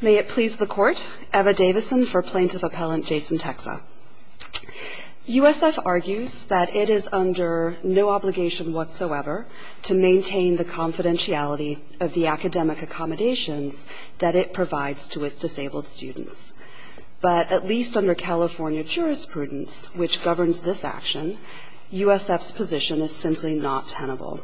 May it please the Court, Eva Davison for Plaintiff Appellant Jason Tecza. USF argues that it is under no obligation whatsoever to maintain the confidentiality of the academic accommodations that it provides to its disabled students. But at least under California jurisprudence, which governs this action, USF's position is simply not tenable.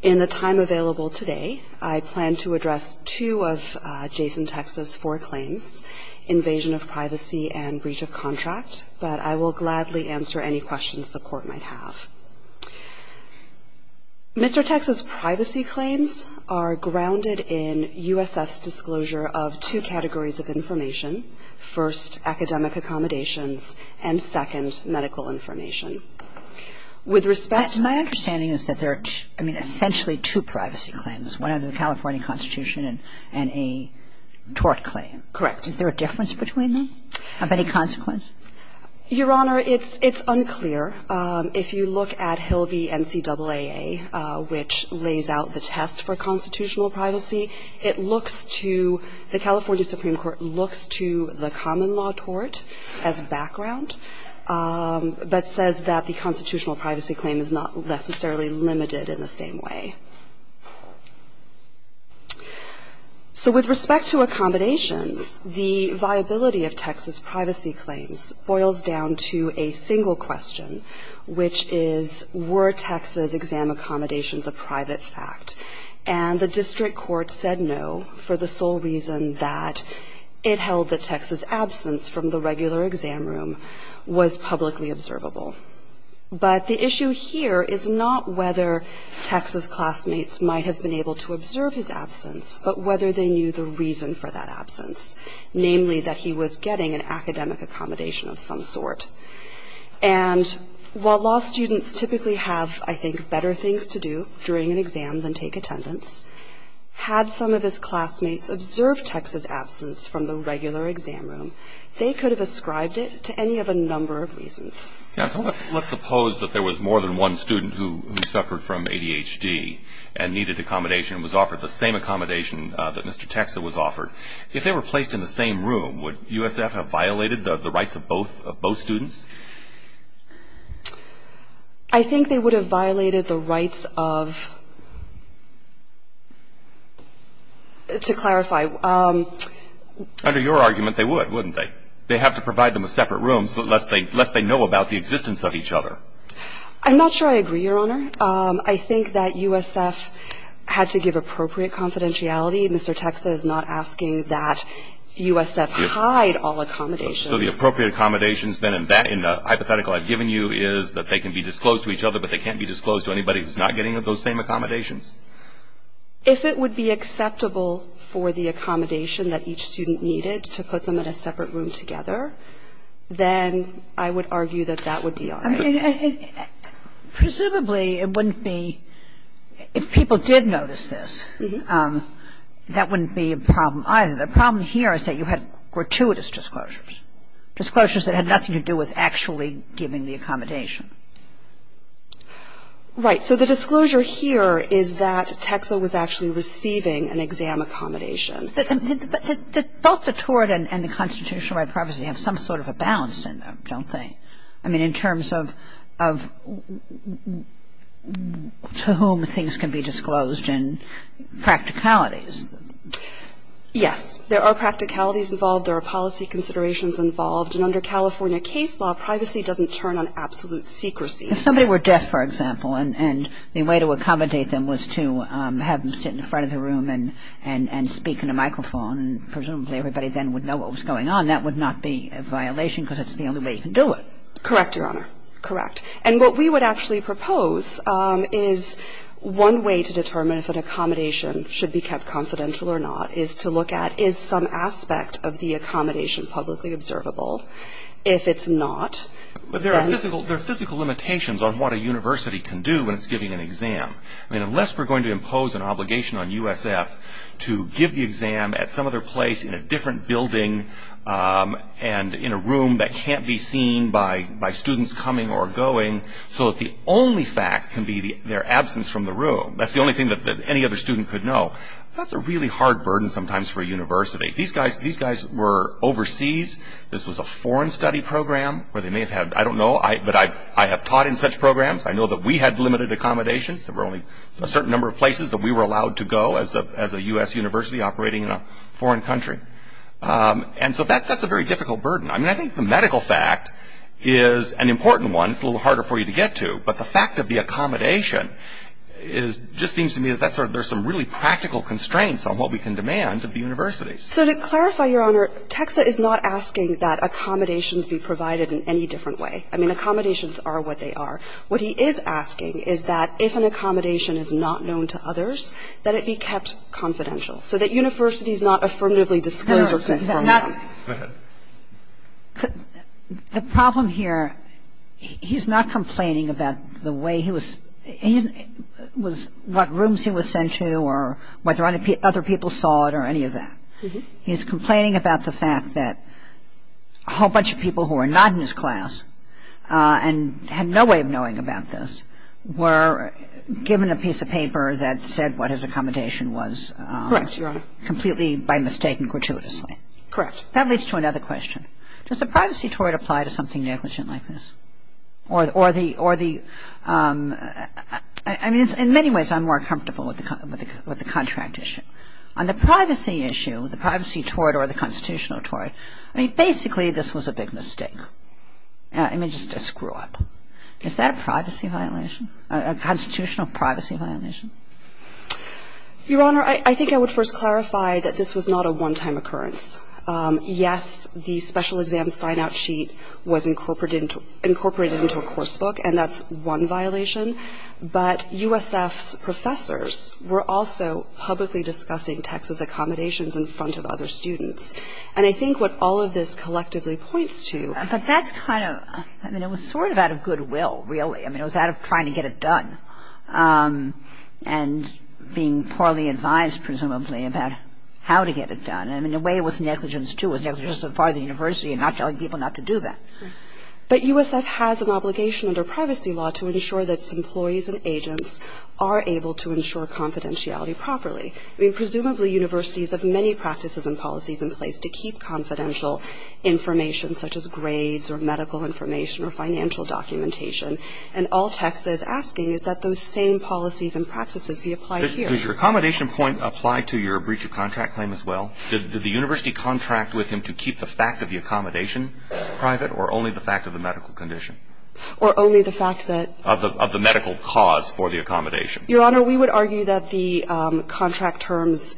In the time available today, I plan to address two of Jason Tecza's four claims, invasion of privacy and breach of contract. But I will gladly answer any questions the Court might have. Mr. Tecza's privacy claims are grounded in USF's disclosure of two categories of information, first, academic accommodations, and second, medical information. With respect to my understanding is that there are, I mean, essentially two privacy claims, one under the California Constitution and a tort claim. Correct. Is there a difference between them of any consequence? Your Honor, it's unclear. If you look at Hill v. NCAAA, which lays out the test for constitutional privacy, it looks to the California Supreme Court looks to the common law tort as background, but says that the constitutional privacy claim is not necessarily limited in the same way. So with respect to accommodations, the viability of Tecza's privacy claims boils down to a single question, which is, were Tecza's exam accommodations a private fact? And the district court said no for the sole reason that it held that Tecza's absence from the regular exam room, was publicly observable, but the issue here is not whether Tecza's classmates might have been able to observe his absence, but whether they knew the reason for that absence, namely that he was getting an academic accommodation of some sort. And while law students typically have, I think, better things to do during an exam than take attendance, had some of his classmates observed Tecza's absence from the regular exam room, they could have ascribed it to any of a number of reasons. Now, let's suppose that there was more than one student who suffered from ADHD and needed accommodation and was offered the same accommodation that Mr. Tecza was offered. If they were placed in the same room, would USF have violated the rights of both students? I think they would have violated the rights of, to clarify. Under your argument, they would, wouldn't they? They have to provide them a separate room, lest they know about the existence of each other. I'm not sure I agree, Your Honor. I think that USF had to give appropriate confidentiality. Mr. Tecza is not asking that USF hide all accommodations. So the appropriate accommodations, then, in the hypothetical I've given you is that they can be disclosed to each other, but they can't be disclosed to anybody who's not getting those same accommodations? If it would be acceptable for the accommodation that each student needed to put them in a separate room together, then I would argue that that would be all right. I mean, presumably it wouldn't be, if people did notice this, that wouldn't be a problem either. The problem here is that you had gratuitous disclosures, disclosures that had nothing to do with actually giving the accommodation. Right. So the disclosure here is that Tecza was actually receiving an exam accommodation. But both the tort and the constitutional right of privacy have some sort of a balance in them, don't they? I mean, in terms of to whom things can be disclosed and practicalities. Yes. There are practicalities involved. There are policy considerations involved. And under California case law, privacy doesn't turn on absolute secrecy. If somebody were deaf, for example, and the way to accommodate them was to have them sit in front of the room and speak in a microphone, and presumably everybody then would know what was going on, that would not be a violation because that's the only way you can do it. Correct, Your Honor. Correct. And what we would actually propose is one way to determine if an accommodation should be kept confidential or not is to look at is some aspect of the accommodation publicly observable. If it's not. But there are physical limitations on what a university can do when it's giving an exam. I mean, unless we're going to impose an obligation on USF to give the exam at some other place, in a different building, and in a room that can't be seen by students coming or going, so that the only fact can be their absence from the room, that's the only thing that any other student could know, that's a really hard burden sometimes for a university. These guys were overseas. This was a foreign study program where they may have had, I don't know, but I have taught in such programs. I know that we had limited accommodations. There were only a certain number of places that we were allowed to go as a US university operating in a foreign country. And so that's a very difficult burden. I mean, I think the medical fact is an important one. It's a little harder for you to get to. But the fact of the accommodation just seems to me that there's some really practical constraints on what we can demand of the universities. So to clarify, Your Honor, TEXA is not asking that accommodations be provided in any different way. I mean, accommodations are what they are. What he is asking is that if an accommodation is not known to others, that it be kept confidential, so that universities not affirmatively disclose or confirm them. Go ahead. The problem here, he's not complaining about the way he was – what rooms he was sent to or whether other people saw it or any of that. He's complaining about the fact that a whole bunch of people who were not in his class and had no way of knowing about this were given a piece of paper that said what his accommodation was. Correct, Your Honor. Completely by mistake and gratuitously. Correct. That leads to another question. Does the privacy tort apply to something negligent like this? Or the – I mean, in many ways I'm more comfortable with the contract issue. On the privacy issue, the privacy tort or the constitutional tort, I mean, basically this was a big mistake. I mean, just a screw-up. Is that a privacy violation, a constitutional privacy violation? Your Honor, I think I would first clarify that this was not a one-time occurrence. Yes, the special exam sign-out sheet was incorporated into a course book, and that's one violation. But USF's professors were also publicly discussing Texas accommodations in front of other students. And I think what all of this collectively points to – But that's kind of – I mean, it was sort of out of goodwill, really. I mean, it was out of trying to get it done. And being poorly advised, presumably, about how to get it done. I mean, in a way it was negligence, too. It was negligence for the university in not telling people not to do that. But USF has an obligation under privacy law to ensure that its employees and agents are able to ensure confidentiality properly. I mean, presumably universities have many practices and policies in place to keep confidential information, such as grades or medical information or financial documentation. And all Texas is asking is that those same policies and practices be applied here. Does your accommodation point apply to your breach of contract claim as well? Did the university contract with him to keep the fact of the accommodation private or only the fact of the medical condition? Or only the fact that – Of the medical cause for the accommodation. Your Honor, we would argue that the contract terms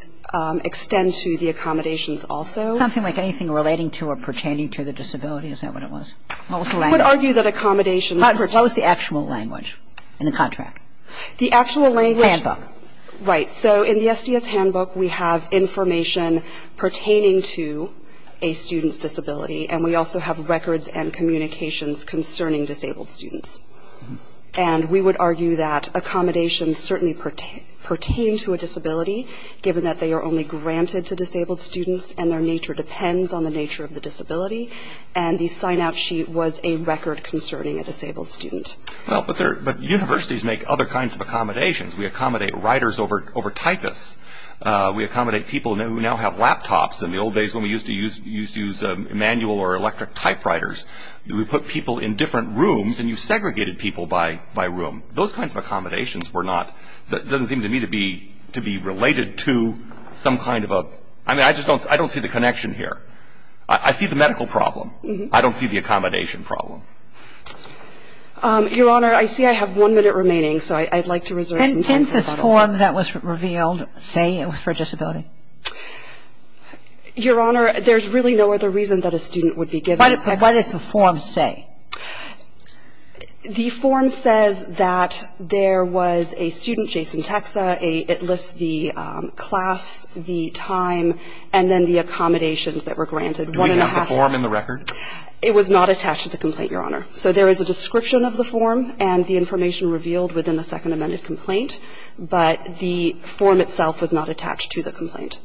extend to the accommodations also. Something like anything relating to or pertaining to the disability? Is that what it was? What was the language? We would argue that accommodations – What was the actual language in the contract? The actual language – Handbook. Right. So in the SDS handbook, we have information pertaining to a student's disability, and we also have records and communications concerning disabled students. And we would argue that accommodations certainly pertain to a disability, given that they are only granted to disabled students and their nature depends on the nature of the disability. And the sign-out sheet was a record concerning a disabled student. Well, but universities make other kinds of accommodations. We accommodate writers over typists. We accommodate people who now have laptops. In the old days when we used to use manual or electric typewriters, we put people in different rooms and you segregated people by room. Those kinds of accommodations were not – doesn't seem to me to be related to some kind of a – I mean, I just don't see the connection here. I see the medical problem. I don't see the accommodation problem. Your Honor, I see I have one minute remaining, so I'd like to reserve some time for that. Can this form that was revealed say it was for a disability? Your Honor, there's really no other reason that a student would be given. But what does the form say? The form says that there was a student, Jason Texa. It lists the class, the time, and then the accommodations that were granted. Do we have the form in the record? It was not attached to the complaint, Your Honor. So there is a description of the form and the information revealed within the second amended complaint, but the form itself was not attached to the complaint.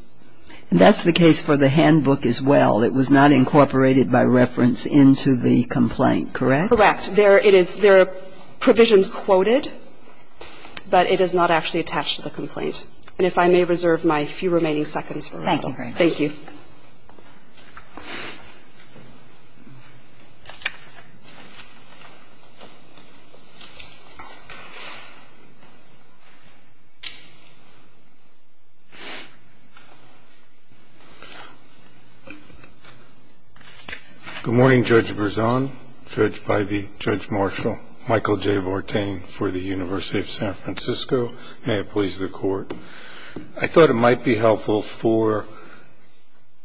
And that's the case for the handbook as well. It was not incorporated by reference into the complaint, correct? Correct. There are provisions quoted, but it is not actually attached to the complaint. And if I may reserve my few remaining seconds for that. Thank you, Your Honor. Thank you. Thank you. Good morning, Judge Berzon, Judge Bybee, Judge Marshall, Michael J. Vortain for the University of San Francisco. May it please the Court. I thought it might be helpful for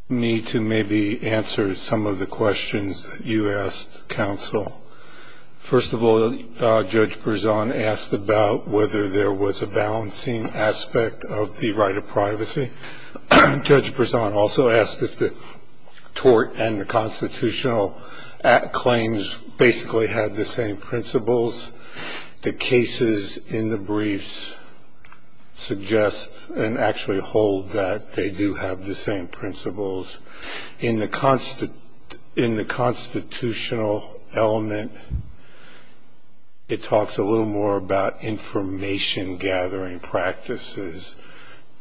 me to maybe answer some of the questions that you asked, counsel. First of all, Judge Berzon asked about whether there was a balancing aspect of the right of privacy. Judge Berzon also asked if the tort and the constitutional claims basically had the same principles. The cases in the briefs suggest and actually hold that they do have the same principles. In the constitutional element, it talks a little more about information gathering practices.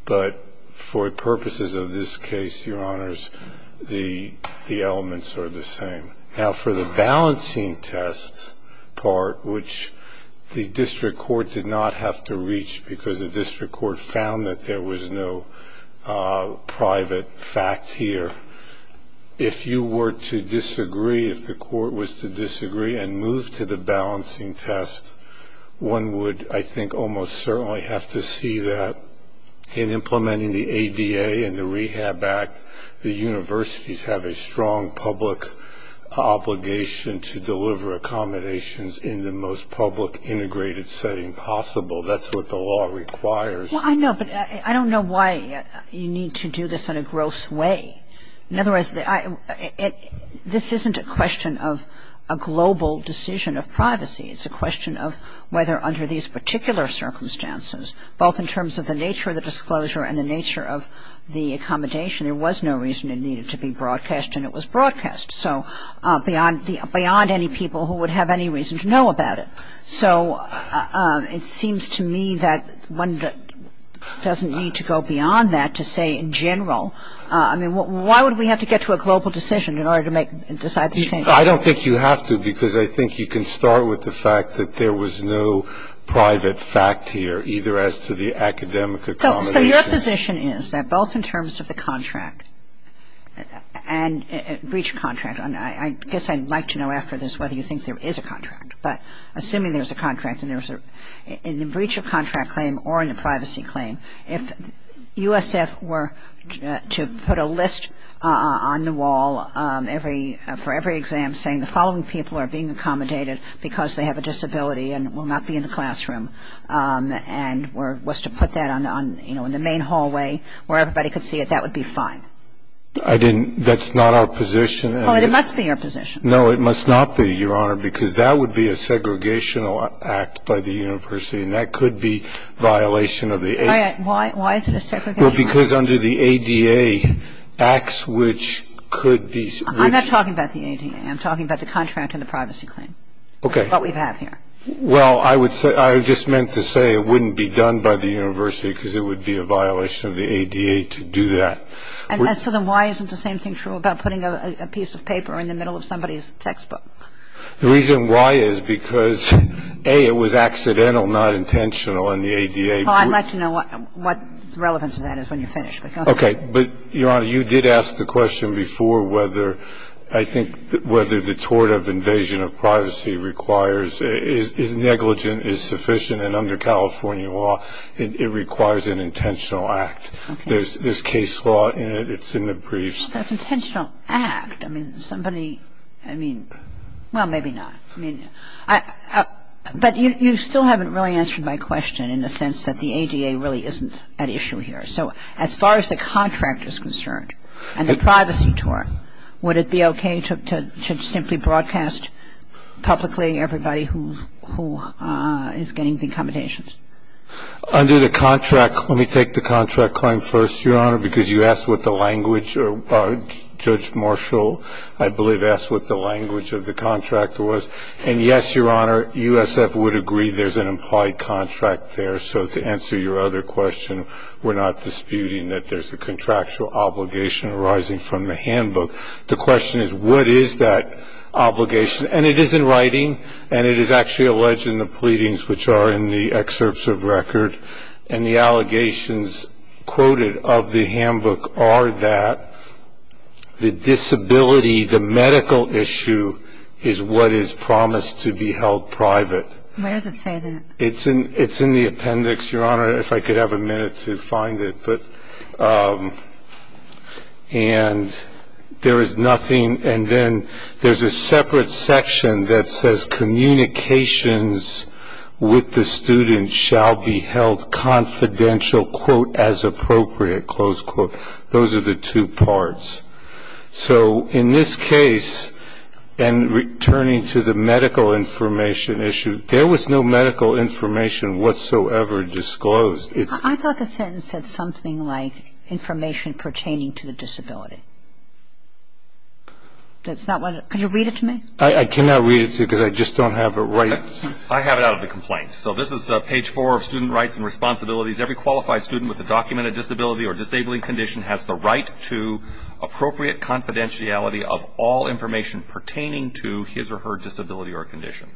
But for purposes of this case, Your Honors, the elements are the same. Now, for the balancing test part, which the district court did not have to reach because the district court found that there was no private fact here. If you were to disagree, if the court was to disagree and move to the balancing test, one would, I think, almost certainly have to see that in implementing the obligation to deliver accommodations in the most public integrated setting possible. That's what the law requires. Well, I know, but I don't know why you need to do this in a gross way. In other words, this isn't a question of a global decision of privacy. It's a question of whether under these particular circumstances, both in terms of the nature of the disclosure and the nature of the accommodation, there was no reason it needed to be broadcast and it was broadcast. So beyond any people who would have any reason to know about it. So it seems to me that one doesn't need to go beyond that to say in general. I mean, why would we have to get to a global decision in order to decide these things? I don't think you have to because I think you can start with the fact that there was no private fact here, either as to the academic accommodation. So your position is that both in terms of the contract and breach of contract, and I guess I'd like to know after this whether you think there is a contract, but assuming there's a contract and there's a breach of contract claim or a privacy claim, if USF were to put a list on the wall for every exam saying the following people are being accommodated because they have a disability and will not be in the main hallway where everybody could see it, that would be fine? I didn't. That's not our position. Well, it must be your position. No, it must not be, Your Honor, because that would be a segregational act by the university and that could be violation of the ADA. Why is it a segregation? Well, because under the ADA, acts which could be. I'm not talking about the ADA. I'm talking about the contract and the privacy claim. Okay. What we have here. Well, I would say, I just meant to say it wouldn't be done by the university because it would be a violation of the ADA to do that. And so then why isn't the same thing true about putting a piece of paper in the middle of somebody's textbook? The reason why is because, A, it was accidental, not intentional, and the ADA. Well, I'd like to know what the relevance of that is when you're finished. Okay. But, Your Honor, you did ask the question before whether I think whether the tort of invasion of privacy requires, is negligent, is sufficient, and under California law, it requires an intentional act. Okay. There's case law in it. It's in the briefs. That's intentional act. I mean, somebody, I mean, well, maybe not. I mean, but you still haven't really answered my question in the sense that the ADA really isn't at issue here. So as far as the contract is concerned and the privacy tort, would it be okay to simply broadcast publicly everybody who is getting the accommodations? Under the contract, let me take the contract claim first, Your Honor, because you asked what the language, Judge Marshall, I believe, asked what the language of the contract was. And, yes, Your Honor, USF would agree there's an implied contract there. So to answer your other question, we're not disputing that there's a contractual obligation arising from the handbook. The question is, what is that obligation? And it is in writing, and it is actually alleged in the pleadings, which are in the excerpts of record. And the allegations quoted of the handbook are that the disability, the medical issue, is what is promised to be held private. Why does it say that? It's in the appendix, Your Honor, if I could have a minute to find it. And there is nothing. And then there's a separate section that says communications with the student shall be held confidential, quote, as appropriate, close quote. Those are the two parts. So in this case, and returning to the medical information issue, there was no medical information whatsoever disclosed. I thought the sentence said something like information pertaining to the disability. That's not what it – could you read it to me? I cannot read it to you because I just don't have it right. I have it out of the complaint. So this is page 4 of Student Rights and Responsibilities. Every qualified student with a documented disability or disabling condition has the right to appropriate confidentiality of all information pertaining to his or her disability or condition.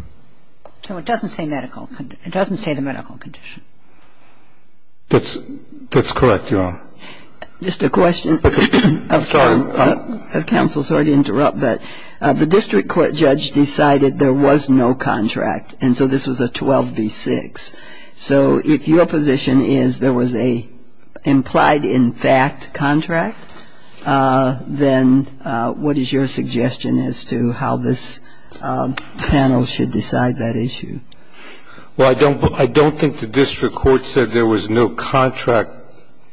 So it doesn't say medical – it doesn't say the medical condition. That's correct, Your Honor. Just a question. I'm sorry. If counsel's sorry to interrupt, but the district court judge decided there was no contract, and so this was a 12B6. So if your position is there was an implied in fact contract, then what is your suggestion as to how this panel should decide that issue? Well, I don't think the district court said there was no contract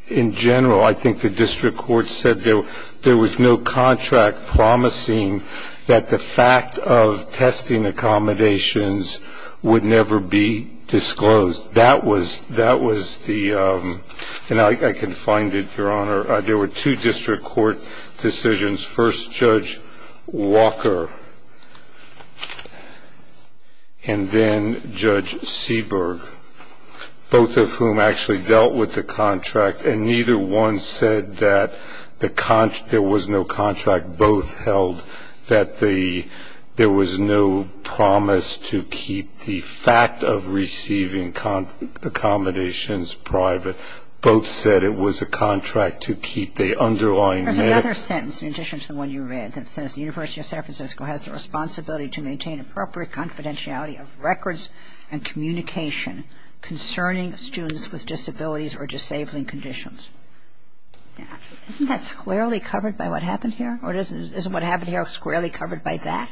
in general. I think the district court said there was no contract promising that the fact of testing accommodations would never be disclosed. That was the – and I can find it, Your Honor. There were two district court decisions. First, Judge Walker, and then Judge Seberg, both of whom actually dealt with the contract, and neither one said that there was no contract. Both held that there was no promise to keep the fact of receiving accommodations private. Both said it was a contract to keep the underlying medical condition. I don't think the district court said there was no contract. There's another sentence in addition to the one you read that says the University of San Francisco has the responsibility to maintain appropriate confidentiality of records and communication concerning students with disabilities or disabling conditions. Isn't that squarely covered by what happened here? Isn't what happened here squarely covered by that?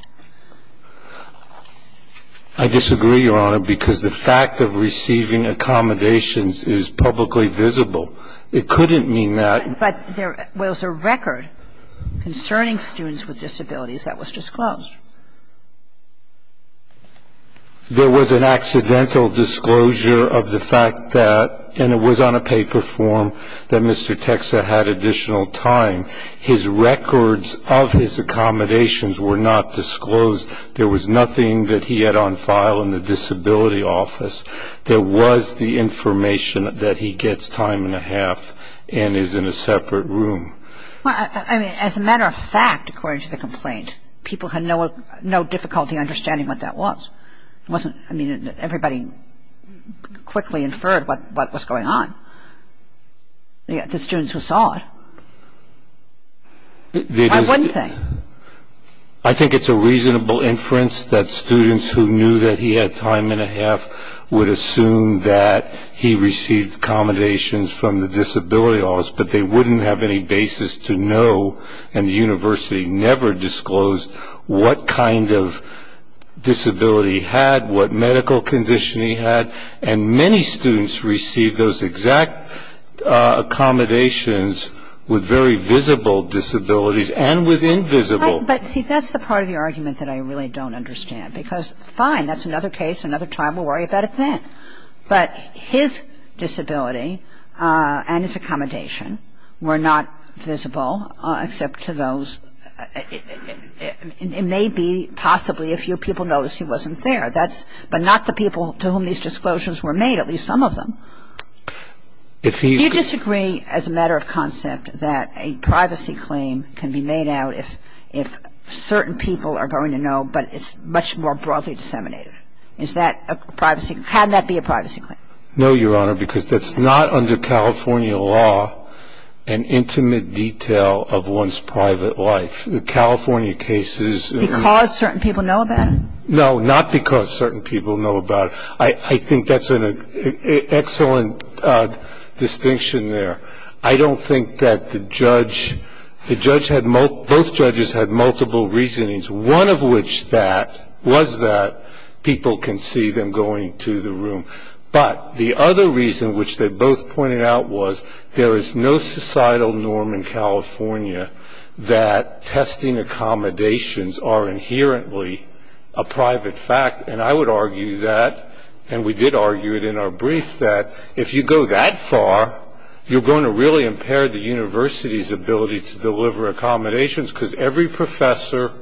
I disagree, Your Honor, because the fact of receiving accommodations is publicly visible. It couldn't mean that – But there was a record concerning students with disabilities that was disclosed. There was an accidental disclosure of the fact that, and it was on a paper form, that Mr. Texa had additional time. His records of his accommodations were not disclosed. There was nothing that he had on file in the disability office. There was the information that he gets time and a half and is in a separate room. Well, I mean, as a matter of fact, according to the complaint, people had no difficulty understanding what that was. It wasn't – I mean, everybody quickly inferred what was going on. The students who saw it. One thing. I think it's a reasonable inference that students who knew that he had time and a half would assume that he received accommodations from the disability office, but they wouldn't have any basis to know, and the university never disclosed, what kind of disability he had, what medical condition he had. And many students received those exact accommodations with very visible disabilities and with invisible. But, see, that's the part of your argument that I really don't understand. Because, fine, that's another case, another time. We'll worry about it then. But his disability and his accommodation were not visible, except to those – it may be possibly a few people noticed he wasn't there. But not the people to whom these disclosures were made, at least some of them. Do you disagree as a matter of concept that a privacy claim can be made out if certain people are going to know, but it's much more broadly disseminated? Is that a privacy – how can that be a privacy claim? No, Your Honor, because that's not under California law an intimate detail of one's private life. The California cases are not. Because certain people know about it? No, not because certain people know about it. I think that's an excellent distinction there. I don't think that the judge – both judges had multiple reasonings, one of which was that people can see them going to the room. But the other reason, which they both pointed out, was there is no societal norm in California that testing accommodations are inherently a private fact. And I would argue that, and we did argue it in our brief, that if you go that far, you're going to really impair the university's ability to deliver accommodations because every professor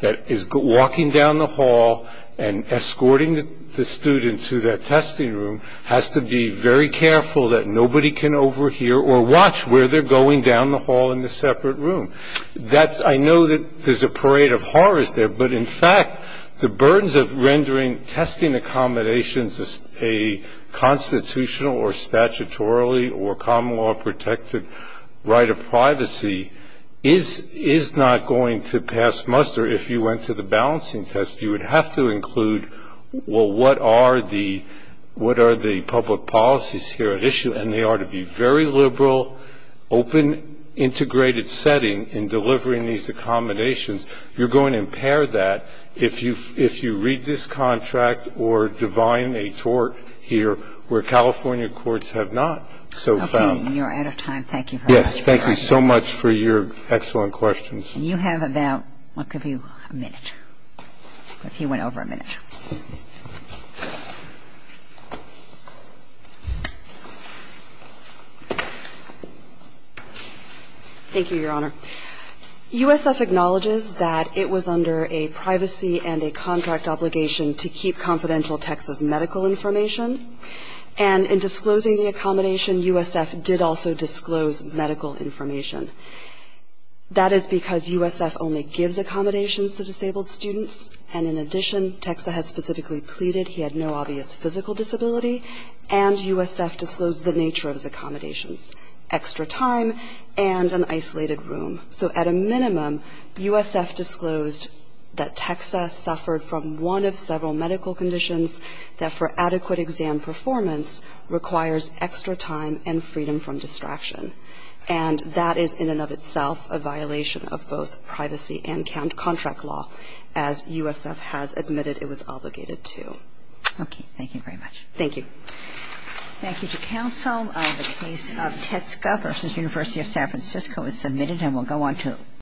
that is walking down the hall and escorting the student to that testing room has to be very careful that nobody can overhear or watch where they're going down the hall in the separate room. I know that there's a parade of horrors there, but in fact the burdens of rendering testing accommodations a constitutional or statutorily or common law protected right of privacy is not going to pass muster. If you went to the balancing test, you would have to include, well, what are the public policies here at issue? And they are to be very liberal, open, integrated setting in delivering these accommodations. You're going to impair that if you read this contract or divine a tort here where California courts have not so found. Okay. You're out of time. Thank you for your time. Yes. Thank you so much for your excellent questions. You have about, what, a minute? He went over a minute. Thank you, Your Honor. USF acknowledges that it was under a privacy and a contract obligation to keep confidential Texas medical information. And in disclosing the accommodation, USF did also disclose medical information. That is because USF only gives accommodations to disabled students. And in addition, Texas has specifically pleaded he had no obvious physical disability and USF disclosed the nature of his accommodations, extra time and an isolated room. So at a minimum, USF disclosed that Texas suffered from one of several medical conditions that for adequate exam performance requires extra time and freedom from distraction. And that is in and of itself a violation of both privacy and contract law, as USF has admitted it was obligated to. Okay. Thank you very much. Thank you. Thank you to counsel. The case of Tesco v. University of San Francisco is submitted and we'll go on to the next case.